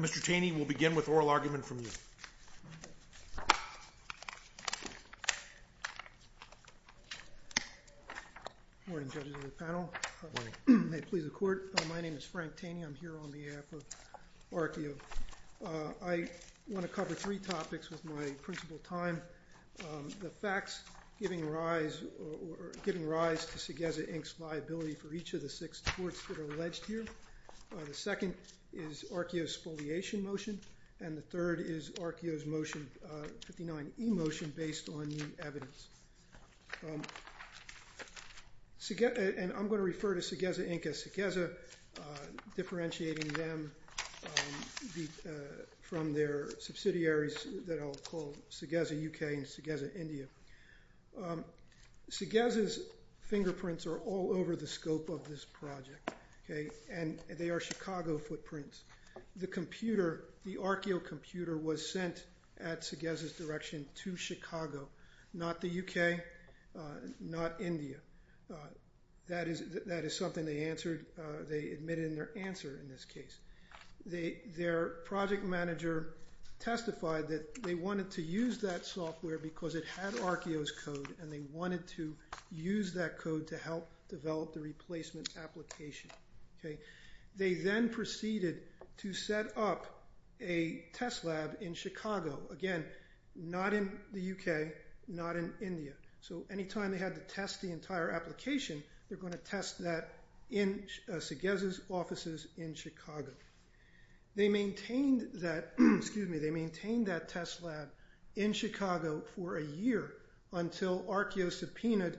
Mr. Taney, we'll begin with oral argument from you. I want to cover three topics with my principal time, the facts giving rise to Saggezza, Inc.'s viability for each of the six courts that are alleged here, the second is Arkeyo's affiliation motion, and the third is Arkeyo's 59E motion based on the evidence. I'm going to refer to Saggezza, Inc. as Saggezza, differentiating them from their subsidiaries that I'll call Saggezza, U.K. and Saggezza, India. Saggezza's fingerprints are all over the scope of this Arkeyo computer was sent at Saggezza's direction to Chicago, not the U.K., not India. That is something they admitted in their answer in this case. Their project manager testified that they wanted to use that software because it had Arkeyo's code and they wanted to use that code to help develop the replacement application. They then proceeded to set up a test lab in Chicago. Again, not in the U.K., not in India. So anytime they had to test the entire application, they were going to test that in Saggezza's offices in Chicago. They maintained that, excuse me, they maintained that test lab in Chicago for a year until Arkeyo subpoenaed,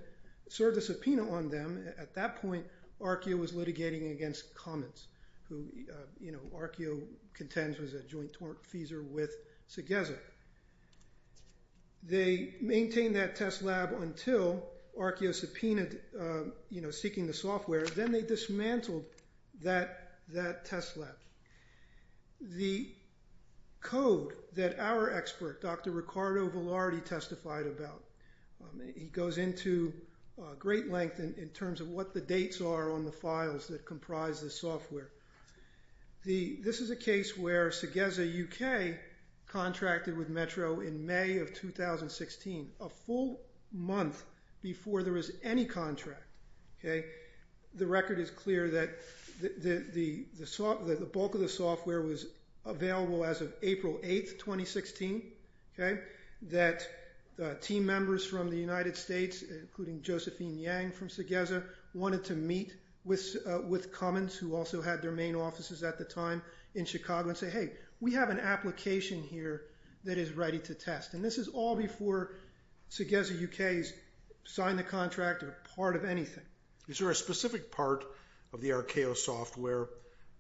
served a subpoena on them. At that point, Arkeyo was litigating against Cummins, who, you know, Arkeyo contends was a joint feeser with Saggezza. They maintained that test lab until Arkeyo subpoenaed, you know, seeking the software. Then they dismantled that test lab. The code that our expert, Dr. Ricardo Velarde, testified about, it goes into great length in terms of what the dates are on the files that comprise the software. This is a case where Saggezza, U.K., contracted with Metro in May of 2016, a full month before there was any contract. The record is clear that the bulk of the software was available as of April 8, 2016, that team members from the United States, including Josephine Yang from Saggezza, wanted to meet with Cummins, who also had their main offices at the time in Chicago, and say, hey, we have an application here that is ready to test. This is all before Saggezza, U.K.'s signed the contract or part of anything. Is there a specific part of the Arkeyo software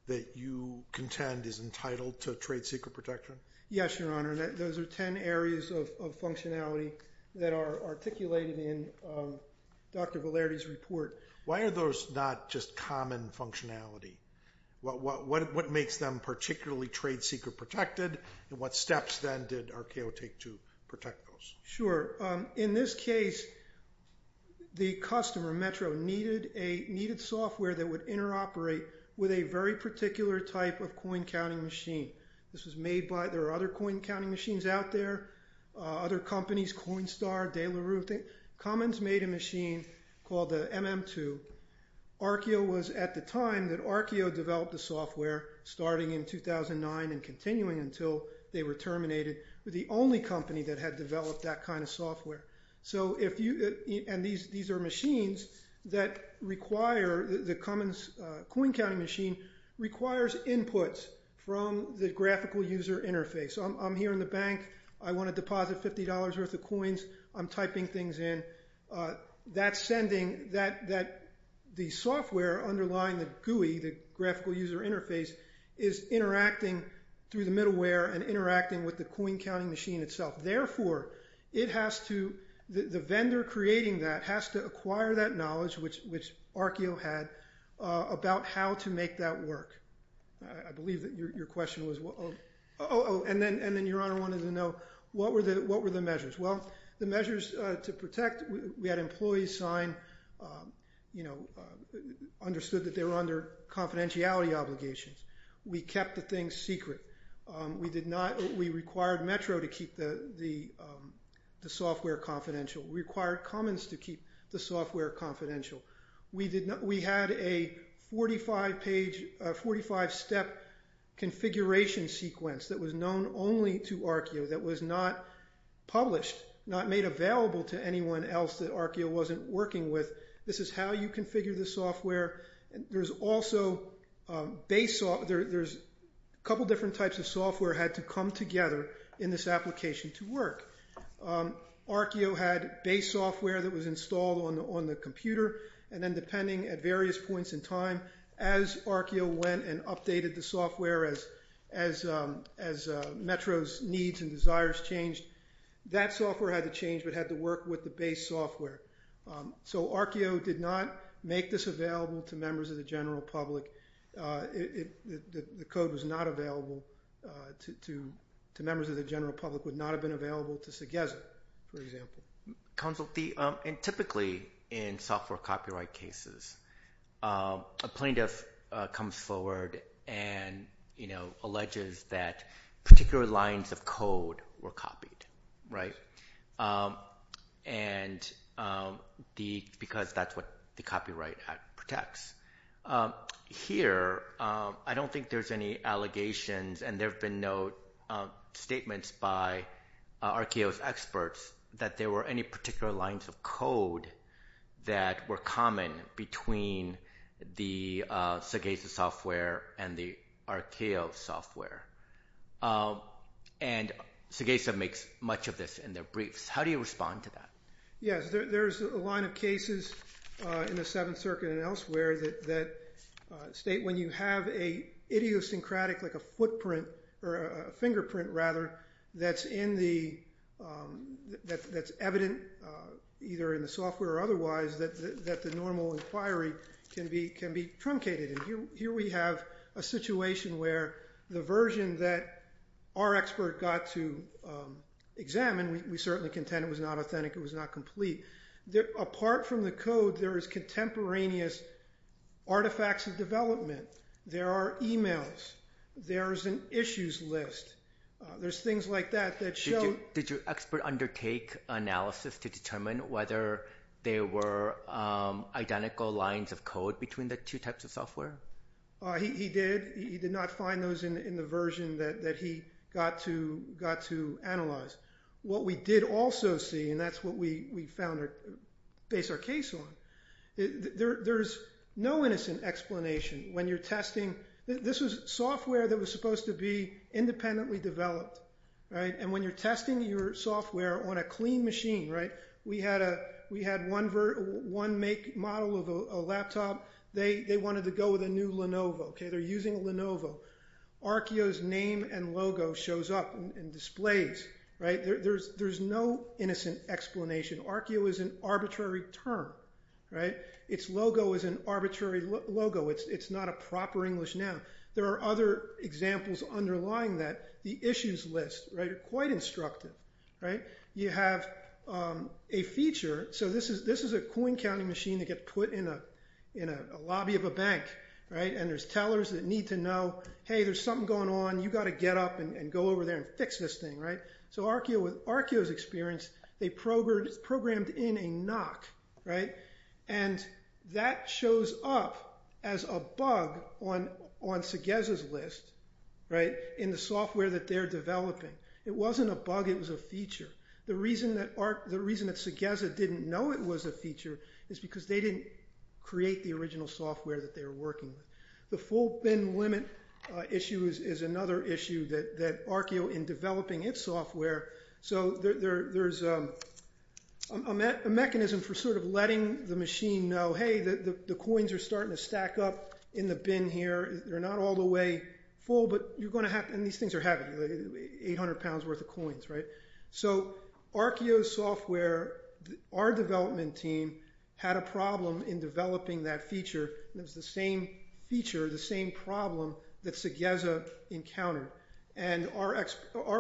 that you contend is entitled to trade secret protection? Yes, Your Honor. Those are ten areas of functionality that are articulated in Dr. Velarde's report. Why are those not just common functionality? What makes them particularly trade secret protected, and what steps then did Arkeyo take to protect those? Sure. In this case, the customer, Metro, needed software that would interoperate with a very particular type of coin counting machine. There are other coin counting machines out there, other companies, Coinstar, De La Rue. Cummins made a machine called the MM2. Arkeyo was at the time that Arkeyo developed the software, starting in 2009 and continuing until they were terminated. They were the only company that had developed that kind of software. These are machines that require, the Cummins coin counting machine requires inputs from the graphical user interface. I'm here in the bank. I want to deposit $50 worth of coins. I'm typing things in. That's sending, the software underlying the GUI, the graphical user interface, is interacting through the middleware and interacting with the coin counting machine itself. Therefore, it has to, the vendor creating that has to acquire that knowledge, which Arkeyo had, about how to make that work. I believe that your question was, oh, and then Your Honor wanted to know, what were the measures? Well, the measures to protect, we had employees sign, you know, understood that they were under confidentiality obligations. We kept the things secret. We did not, we required Metro to keep the software confidential. We required Cummins to keep the software confidential. We did not, we had a 45 page, a 45 step configuration sequence that was known only to Arkeyo that was not published, not made available to anyone else that Arkeyo wasn't working with. This is how you configure the software. There's also base, there's a couple different types of software had to come together in this application to work. Arkeyo had base software that was installed on the computer, and then depending at various points in time, as Arkeyo went and updated the software, as Metro's needs and desires changed, that software had to change, but had to work with the base software. So Arkeyo did not make this available to members of the general public. The code was not available to members of the general public, would not have been available to Segeza, for example. Counsel, and typically in software copyright cases, a plaintiff comes forward and, you know, alleges that particular lines of code were copied, right? And the, because that's what the Copyright Act protects. Here, I don't think there's any allegations, and there have been no statements by Arkeyo's experts that there were any particular lines of code that were common between the Segeza software and the Arkeyo software. And Segeza makes much of this in their briefs. How do you respond to that? Yes, there's a line of cases in the Seventh Circuit and elsewhere that state when you have a idiosyncratic, like a footprint, or a fingerprint rather, that's in the, that's evident either in the software or otherwise, that the normal inquiry can be truncated. And here we have a situation where the version that our expert got to examine, we certainly contend it was not authentic, it was not complete. Apart from the code, there is contemporaneous artifacts of development. There are emails. There's an issues list. There's things like that that show... Did your expert undertake analysis to determine whether there were identical lines of code between the two types of software? He did. He did not find those in the version that he got to analyze. What we did also see, and that's what we found, based our case on, there's no innocent explanation when you're testing. This was software that was supposed to be independently developed. And when you're testing your software on a clean machine, we had one make model of a laptop. They wanted to go with a new Lenovo. They're using a Lenovo. Arkeyo's name and logo shows up in displays. There's no innocent explanation. Arkeyo is an arbitrary term. Its logo is an arbitrary logo. It's not a proper English noun. There are other examples underlying that, the issues list. They're quite instructive. You have a feature. So this is a coin counting machine that gets put in a lobby of a bank. And there's tellers that need to know, hey, there's something going on. You've got to get up and go over there and fix this thing. So Arkeyo's experience, they programmed in a knock. And that shows up as a bug on Segeza's list in the software that they're developing. It wasn't a bug. It was a feature. The reason that Segeza didn't know it was a feature is because they didn't create the original software that they were working with. The full bin limit issue is another issue that Arkeyo, in developing its software, so there's a mechanism for sort of letting the machine know, hey, the coins are starting to stack up in the bin here. They're not all the way full, but you're going to have, and these things are heavy, 800 pounds worth of coins, right? So Arkeyo's software, our development team, had a problem in developing that feature. It was the same feature, the same problem that Segeza encountered. And our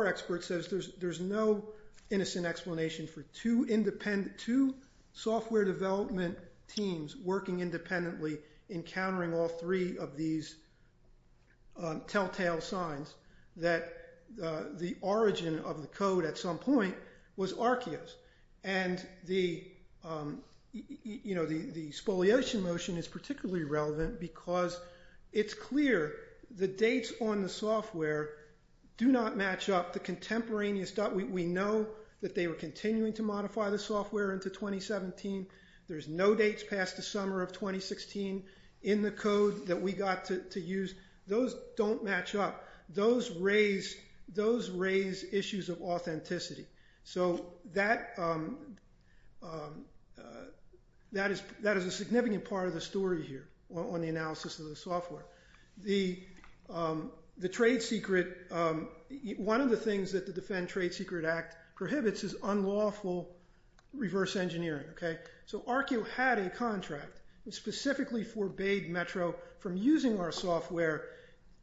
expert says there's no innocent explanation for two software development teams working independently encountering all three of these telltale signs that the origin of the code at some point was Arkeyo's. And the spoliation motion is particularly relevant because it's clear the dates on the software do not match up. We know that they were continuing to modify the software into 2017. There's no dates past the summer of 2016 in the code that we got to use. Those don't match up. Those raise issues of authenticity. So that is a significant part of the story here on the analysis of the software. The trade secret, one of the things that the Defend Trade Secret Act prohibits is unlawful reverse engineering. So Arkeyo had a contract that specifically forbade Metro from using our software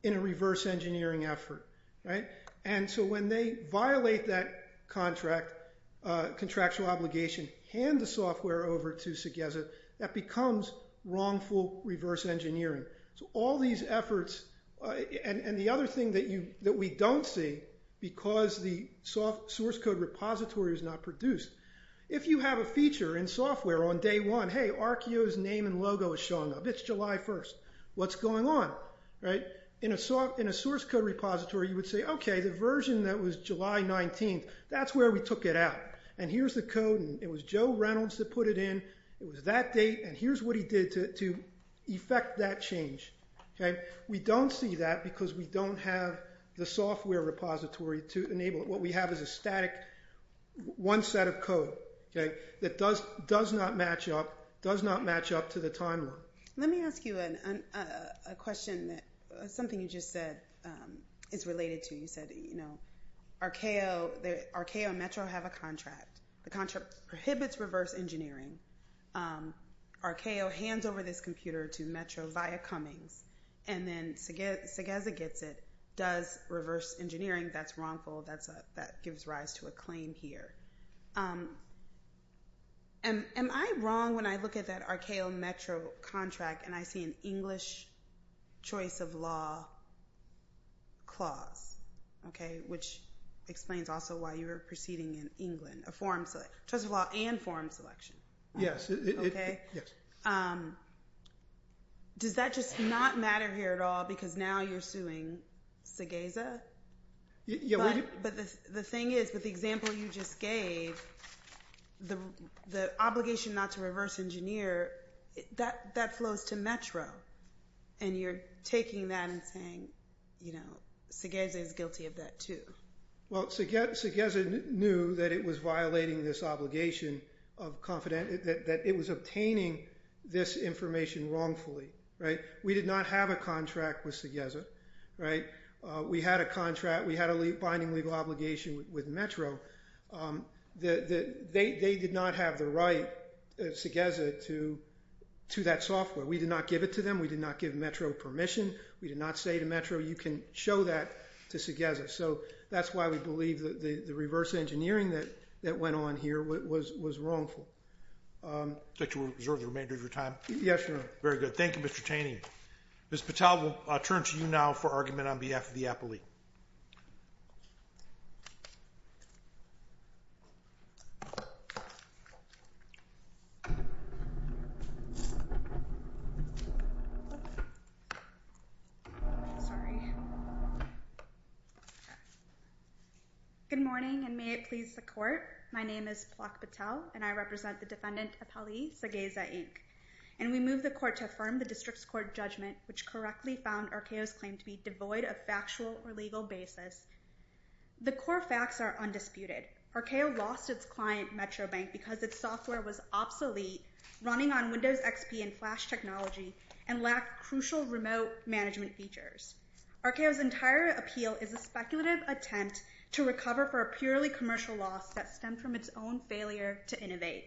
in a reverse engineering effort. And so when they violate that contractual obligation, hand the software over to Segeza, that becomes wrongful reverse engineering. So all these efforts, and the other thing that we don't see because the source code repository is not produced, if you have a feature in software on day one, hey, Arkeyo's name and logo is showing up. It's July 1st. What's going on? In a source code repository, you would say, okay, the version that was July 19th, that's where we took it out. And here's the code, and it was Joe Reynolds that put it in. It was that date, and here's what he did to effect that change. We don't see that because we don't have the software repository to enable it. What we have is a static one set of code that does not match up to the timeline. Let me ask you a question, something you just said is related to. You said Arkeyo and Metro have a contract. The contract prohibits reverse engineering. Arkeyo hands over this computer to Metro via Cummings, and then Segeza gets it, does reverse engineering. That's wrongful. That gives rise to a claim here. Am I wrong when I look at that Arkeyo-Metro contract, and I see an English choice of law clause, which explains also why you were proceeding in England, a choice of law and forum selection. Does that just not matter here at all because now you're suing Segeza? The thing is, with the example you just gave, the obligation not to reverse engineer, that flows to Metro. You're taking that and saying Segeza is guilty of that too. Segeza knew that it was violating this obligation, that it was obtaining this information wrongfully. We did not have a contract with Segeza. We had a binding legal obligation with Metro. They did not have the right, Segeza, to that software. We did not give it to them. We did not give Metro permission. We did not say to Metro, you can show that to Segeza. So that's why we believe that the reverse engineering that went on here was wrongful. Would you like to reserve the remainder of your time? Yes, Your Honor. Very good. Thank you, Mr. Chaney. Ms. Patel, we'll turn to you now for argument on behalf of the appellee. Good morning, and may it please the court. My name is Plak Patel, and I represent the defendant, Appellee Segeza, Inc. And we move the court to affirm the district's court judgment, which correctly found Arceo's claim to be devoid of factual or legal basis. The core facts are undisputed. Arceo lost its client, Metro Bank, because its software was obsolete, running on Windows XP and Flash technology, and lacked crucial remote management features. Arceo's entire appeal is a speculative attempt to recover for a purely commercial loss that stemmed from its own failure to innovate.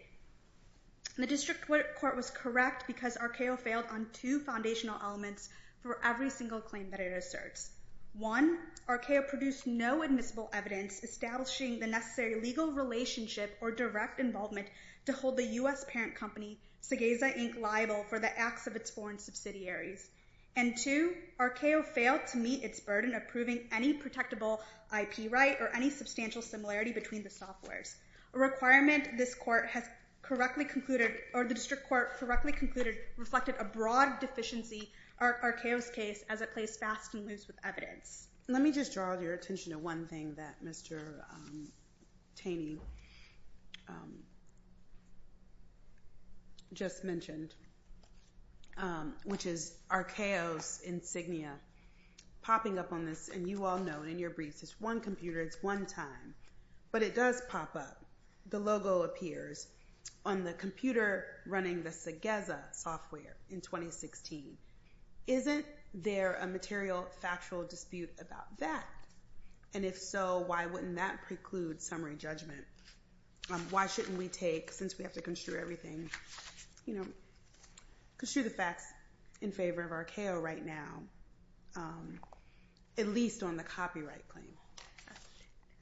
The district court was correct because Arceo failed on two foundational elements for every single claim that it asserts. One, Arceo produced no admissible evidence establishing the necessary legal relationship or direct involvement to hold the U.S. parent company, Segeza, Inc., liable for the acts of its foreign subsidiaries. And two, Arceo failed to meet its burden of proving any protectable IP right or any substantial similarity between the softwares. A requirement this court has correctly concluded, or the district court correctly concluded, reflected a broad deficiency of Arceo's case as it plays fast and loose with evidence. Let me just draw your attention to one thing that Mr. Taney just mentioned, which is Arceo's insignia. Popping up on this, and you all know, in your briefs, it's one computer, it's one time, but it does pop up. The logo appears on the computer running the Segeza software in 2016. Isn't there a material, factual dispute about that? And if so, why wouldn't that preclude summary judgment? Why shouldn't we take, since we have to construe everything, you know, construe the facts in favor of Arceo right now, at least on the copyright plane?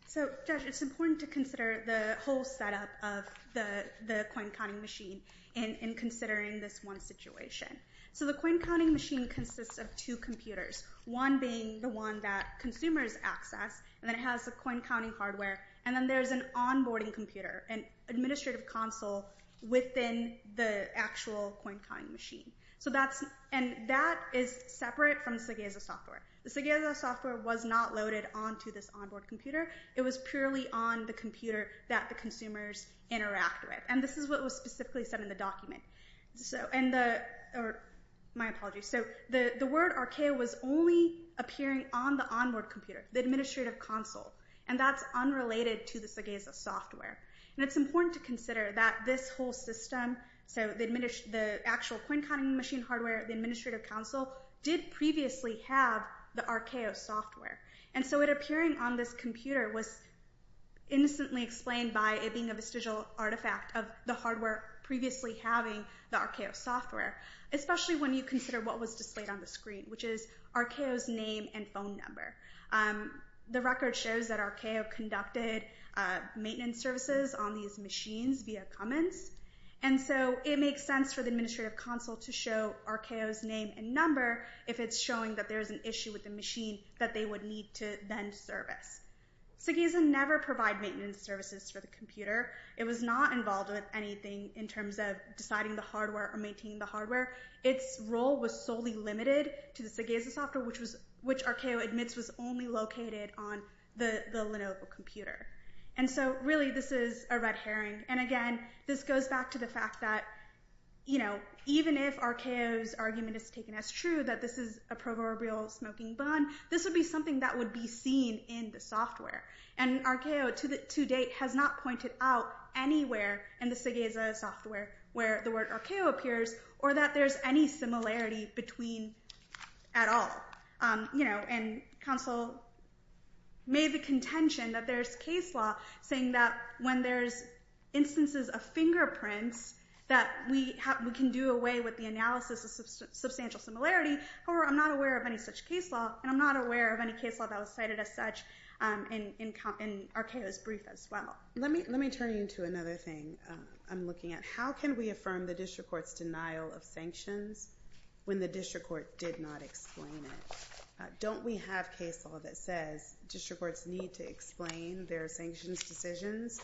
So, Josh, it's important to consider the whole setup of the coin counting machine in considering this one situation. So the coin counting machine consists of two computers, one being the one that consumers access, and then it has the coin counting hardware, and then there's an onboarding computer, an administrative console within the actual coin counting machine. And that is separate from the Segeza software. The Segeza software was not loaded onto this onboard computer. It was purely on the computer that the consumers interact with. And this is what was specifically said in the document. My apologies. So the word Arceo was only appearing on the onboard computer, the administrative console, and that's unrelated to the Segeza software. And it's important to consider that this whole system, so the actual coin counting machine hardware, the administrative console, did previously have the Arceo software. And so it appearing on this computer was innocently explained by it being a vestigial artifact of the hardware previously having the Arceo software, especially when you consider what was displayed on the screen, which is Arceo's name and phone number. The record shows that Arceo conducted maintenance services on these machines via Cummins. And so it makes sense for the administrative console to show Arceo's name and number if it's showing that there's an issue with the machine that they would need to then service. Segeza never provided maintenance services for the computer. It was not involved with anything in terms of deciding the hardware or maintaining the hardware. Its role was solely limited to the Segeza software, which Arceo admits was only located on the Lenovo computer. And so really this is a red herring. And again, this goes back to the fact that, you know, even if Arceo's argument is taken as true that this is a proverbial smoking bun, this would be something that would be seen in the software. And Arceo to date has not pointed out anywhere in the Segeza software where the word Arceo appears or that there's any similarity between at all. And counsel made the contention that there's case law saying that when there's instances of fingerprints that we can do away with the analysis of substantial similarity. However, I'm not aware of any such case law, and I'm not aware of any case law that was cited as such in Arceo's brief as well. Let me turn you into another thing I'm looking at. How can we affirm the district court's denial of sanctions when the district court did not explain it? Don't we have case law that says district courts need to explain their sanctions decisions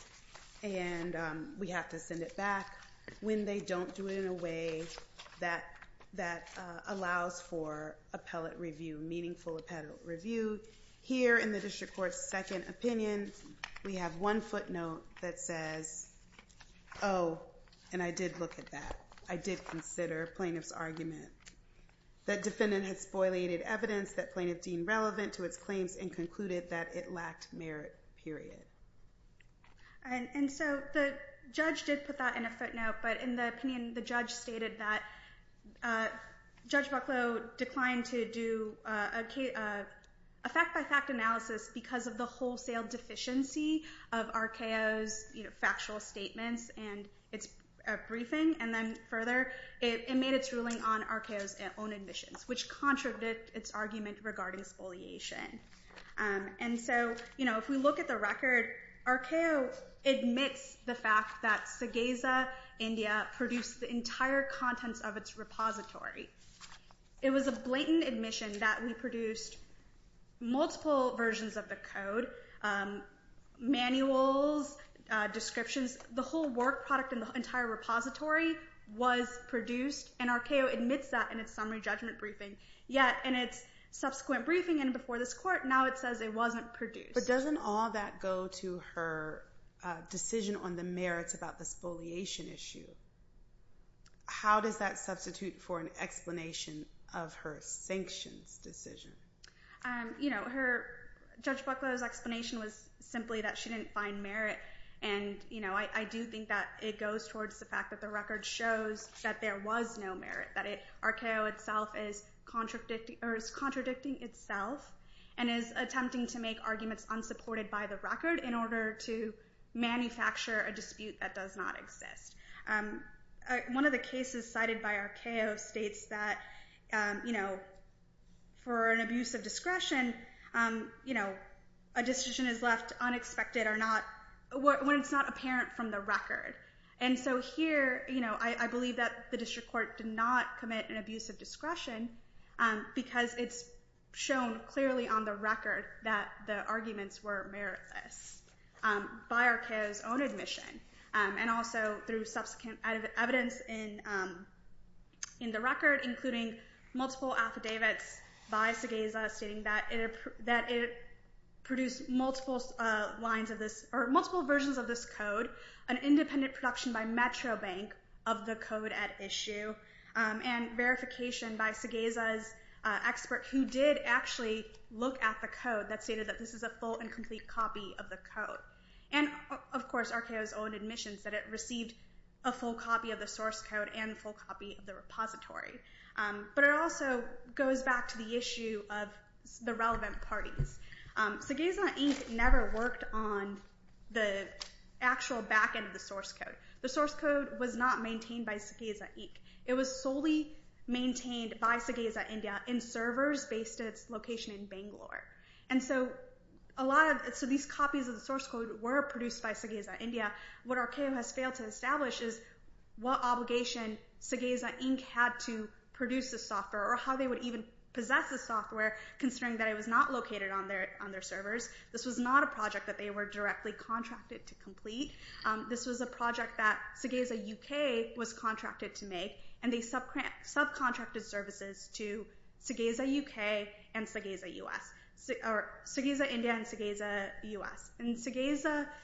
and we have to send it back when they don't do it in a way that allows for appellate review, meaningful appellate review? Here in the district court's second opinion, we have one footnote that says, oh, and I did look at that, I did consider plaintiff's argument, that defendant had spoilated evidence that plaintiff deemed relevant to its claims and concluded that it lacked merit, period. And so the judge did put that in a footnote, but in the opinion, the judge stated that Judge Bucklow declined to do a fact-by-fact analysis because of the wholesale deficiency of Arceo's factual statements and its briefing. And then further, it made its ruling on Arceo's own admissions, which contradicted its argument regarding spoliation. And so if we look at the record, Arceo admits the fact that Segeza, India, produced the entire contents of its repository. It was a blatant admission that we produced multiple versions of the code, manuals, descriptions, the whole work product in the entire repository was produced, and Arceo admits that in its summary judgment briefing. Yet in its subsequent briefing and before this court, now it says it wasn't produced. But doesn't all that go to her decision on the merits about the spoliation issue? How does that substitute for an explanation of her sanctions decision? You know, Judge Bucklow's explanation was simply that she didn't find merit, and I do think that it goes towards the fact that the record shows that there was no merit, that Arceo itself is contradicting itself and is attempting to make arguments unsupported by the record in order to manufacture a dispute that does not exist. One of the cases cited by Arceo states that for an abuse of discretion, a decision is left unexpected when it's not apparent from the record. And so here, I believe that the district court did not commit an abuse of discretion because it's shown clearly on the record that the arguments were meritless by Arceo's own admission and also through subsequent evidence in the record, including multiple affidavits by Segeza stating that it produced multiple versions of this code, an independent production by Metro Bank of the code at issue, and verification by Segeza's expert who did actually look at the code that stated that this is a full and complete copy of the code. And of course, Arceo's own admission said it received a full copy of the source code and a full copy of the repository. But it also goes back to the issue of the relevant parties. Segeza Inc. never worked on the actual back end of the source code. The source code was not maintained by Segeza Inc. It was solely maintained by Segeza India in servers based at its location in Bangalore. And so these copies of the source code were produced by Segeza India. What Arceo has failed to establish is what obligation Segeza Inc. had to produce this software or how they would even possess this software, considering that it was not located on their servers. This was not a project that they were directly contracted to complete. This was a project that Segeza UK was contracted to make, and they subcontracted services to Segeza India and Segeza US. And Segeza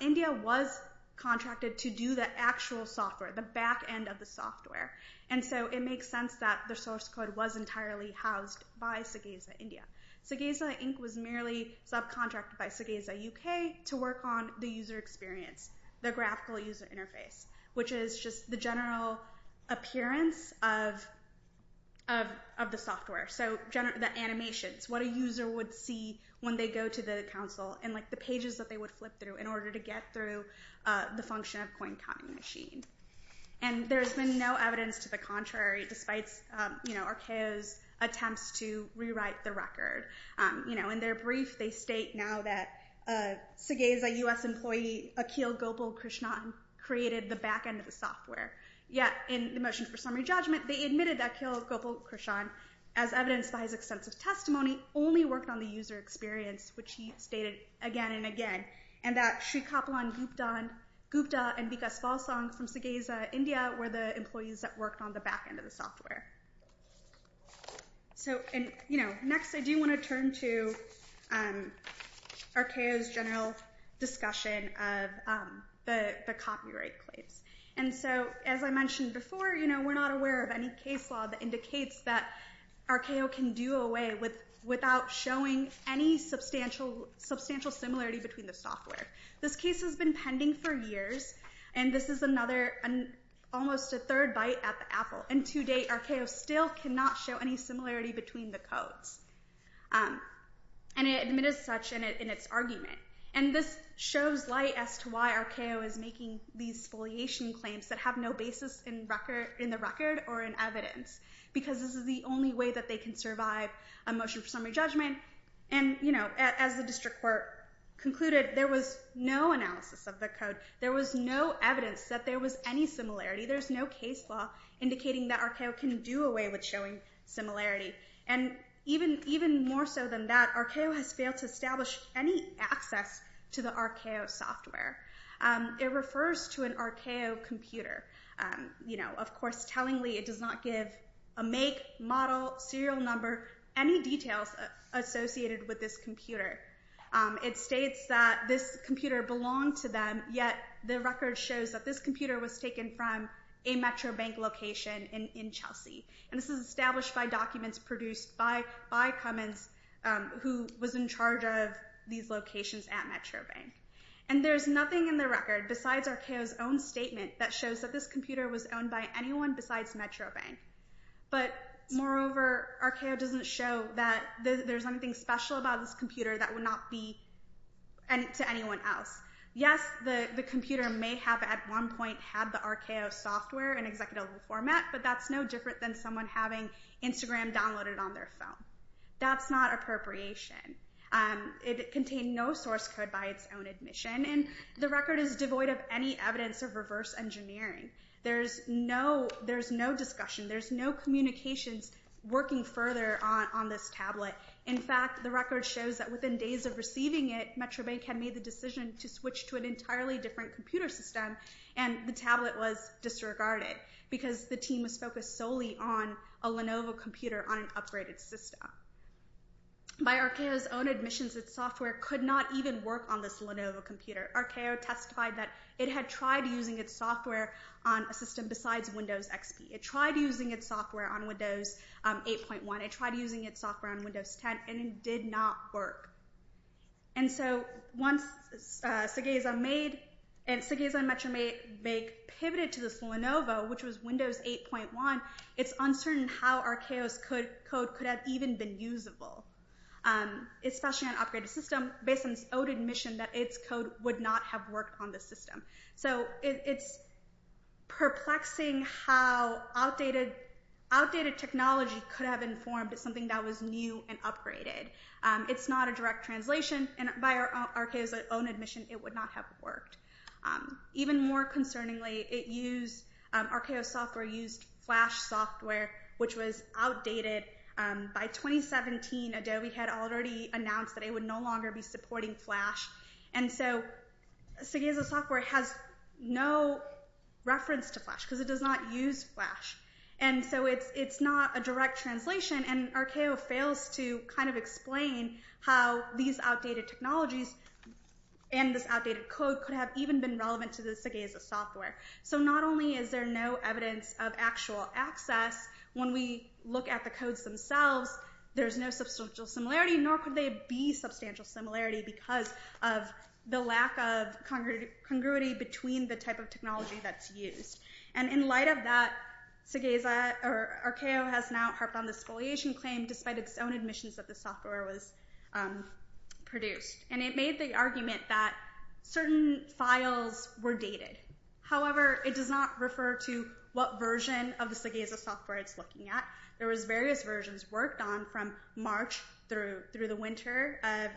India was contracted to do the actual software, the back end of the software. And so it makes sense that the source code was entirely housed by Segeza India. Segeza Inc. was merely subcontracted by Segeza UK to work on the user experience, the graphical user interface, which is just the general appearance of the software. So the animations, what a user would see when they go to the console, and the pages that they would flip through in order to get through the function of coin counting machine. And there's been no evidence to the contrary, despite Arceo's attempts to rewrite the record. In their brief, they state now that Segeza US employee Akhil Gopal Krishnan created the back end of the software. Yet in the motion for summary judgment, they admitted that Akhil Gopal Krishnan, as evidenced by his extensive testimony, only worked on the user experience, which he stated again and again, and that Shrikhappalan Gupta and Vikas Valsang from Segeza India were the employees that worked on the back end of the software. So next I do want to turn to Arceo's general discussion of the copyright plates. And so, as I mentioned before, we're not aware of any case law that indicates that Arceo can do away without showing any substantial similarity between the software. This case has been pending for years, and this is another, almost a third bite at the apple. And to date, Arceo still cannot show any similarity between the codes. And it admitted such in its argument. And this shows light as to why Arceo is making these foliation claims that have no basis in the record or in evidence. Because this is the only way that they can survive a motion for summary judgment. And, you know, as the district court concluded, there was no analysis of the code. There was no evidence that there was any similarity. There's no case law indicating that Arceo can do away with showing similarity. And even more so than that, Arceo has failed to establish any access to the Arceo software. It refers to an Arceo computer. You know, of course, tellingly, it does not give a make, model, serial number, any details associated with this computer. It states that this computer belonged to them, yet the record shows that this computer was taken from a Metro Bank location in Chelsea. And this is established by documents produced by Cummins, who was in charge of these locations at Metro Bank. And there's nothing in the record besides Arceo's own statement that shows that this computer was owned by anyone besides Metro Bank. But moreover, Arceo doesn't show that there's anything special about this computer that would not be to anyone else. Yes, the computer may have at one point had the Arceo software in executable format, but that's no different than someone having Instagram downloaded on their phone. That's not appropriation. It contained no source code by its own admission, and the record is devoid of any evidence of reverse engineering. There's no discussion. There's no communications working further on this tablet. In fact, the record shows that within days of receiving it, Metro Bank had made the decision to switch to an entirely different computer system, and the tablet was disregarded because the team was focused solely on a Lenovo computer on an upgraded system. By Arceo's own admissions, its software could not even work on this Lenovo computer. Arceo testified that it had tried using its software on a system besides Windows XP. It tried using its software on Windows 8.1. It tried using its software on Windows 10, and it did not work. And so once Segeza and Metro Bank pivoted to this Lenovo, which was Windows 8.1, it's uncertain how Arceo's code could have even been usable, especially on an upgraded system, based on its own admission that its code would not have worked on the system. So it's perplexing how outdated technology could have informed something that was new and upgraded. It's not a direct translation, and by Arceo's own admission, it would not have worked. Even more concerningly, Arceo's software used Flash software, which was outdated. By 2017, Adobe had already announced that it would no longer be supporting Flash. And so Segeza's software has no reference to Flash, because it does not use Flash. And so it's not a direct translation, and Arceo fails to kind of explain how these outdated technologies and this outdated code could have even been relevant to the Segeza software. So not only is there no evidence of actual access, when we look at the codes themselves, there's no substantial similarity, nor could there be substantial similarity because of the lack of congruity between the type of technology that's used. And in light of that, Arceo has now harped on this spoliation claim, despite its own admissions that the software was produced. And it made the argument that certain files were dated. However, it does not refer to what version of the Segeza software it's looking at. There was various versions worked on from March through the winter of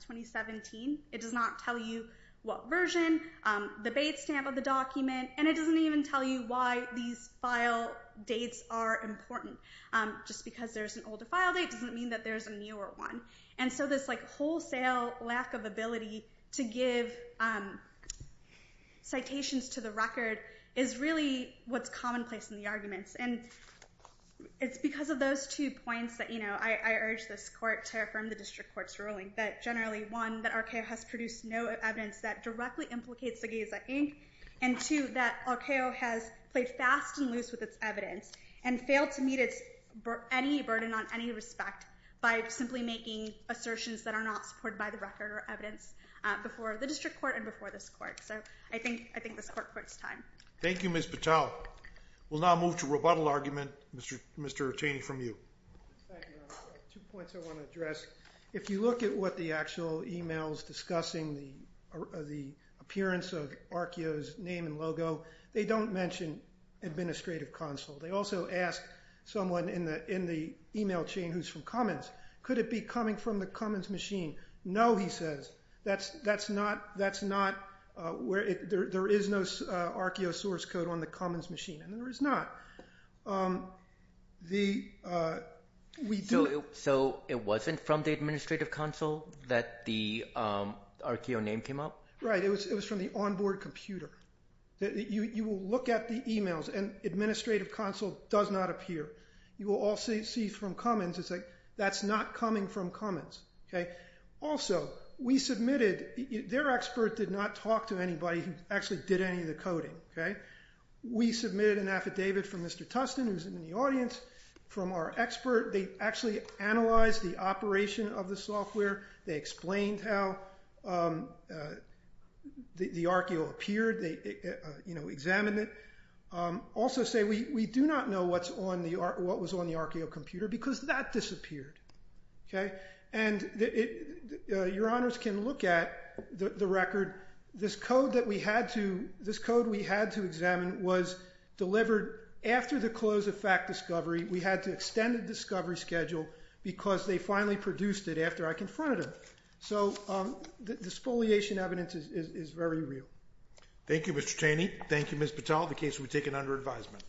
2017. It does not tell you what version, the base stamp of the document, and it doesn't even tell you why these file dates are important. Just because there's an older file date doesn't mean that there's a newer one. And so this wholesale lack of ability to give citations to the record is really what's commonplace in the arguments. And it's because of those two points that I urge this court to affirm the district court's ruling, that generally, one, that Arceo has produced no evidence that directly implicates Segeza, Inc., and two, that Arceo has played fast and loose with its evidence and failed to meet any burden on any respect by simply making assertions that are not supported by the record or evidence before the district court and before this court. So I think this court quotes time. Thank you, Ms. Patel. We'll now move to rebuttal argument. Mr. Chaney, from you. Thank you. Two points I want to address. If you look at what the actual email is discussing, the appearance of Arceo's name and logo, they don't mention administrative console. They also ask someone in the email chain who's from Cummins, could it be coming from the Cummins machine? No, he says. There is no Arceo source code on the Cummins machine, and there is not. So it wasn't from the administrative console that the Arceo name came up? Right. It was from the onboard computer. You will look at the emails, and administrative console does not appear. You will also see from Cummins, it's like, that's not coming from Cummins. Also, we submitted, their expert did not talk to anybody who actually did any of the coding. We submitted an affidavit from Mr. Tustin, who's in the audience, from our expert. They actually analyzed the operation of the software. They explained how the Arceo appeared. They examined it. Also say, we do not know what was on the Arceo computer because that disappeared. And your honors can look at the record. This code that we had to examine was delivered after the close of fact discovery. We had to extend the discovery schedule because they finally produced it after I confronted them. So the spoliation evidence is very real. Thank you, Mr. Chaney. Thank you, Ms. Patel. The case will be taken under advisement.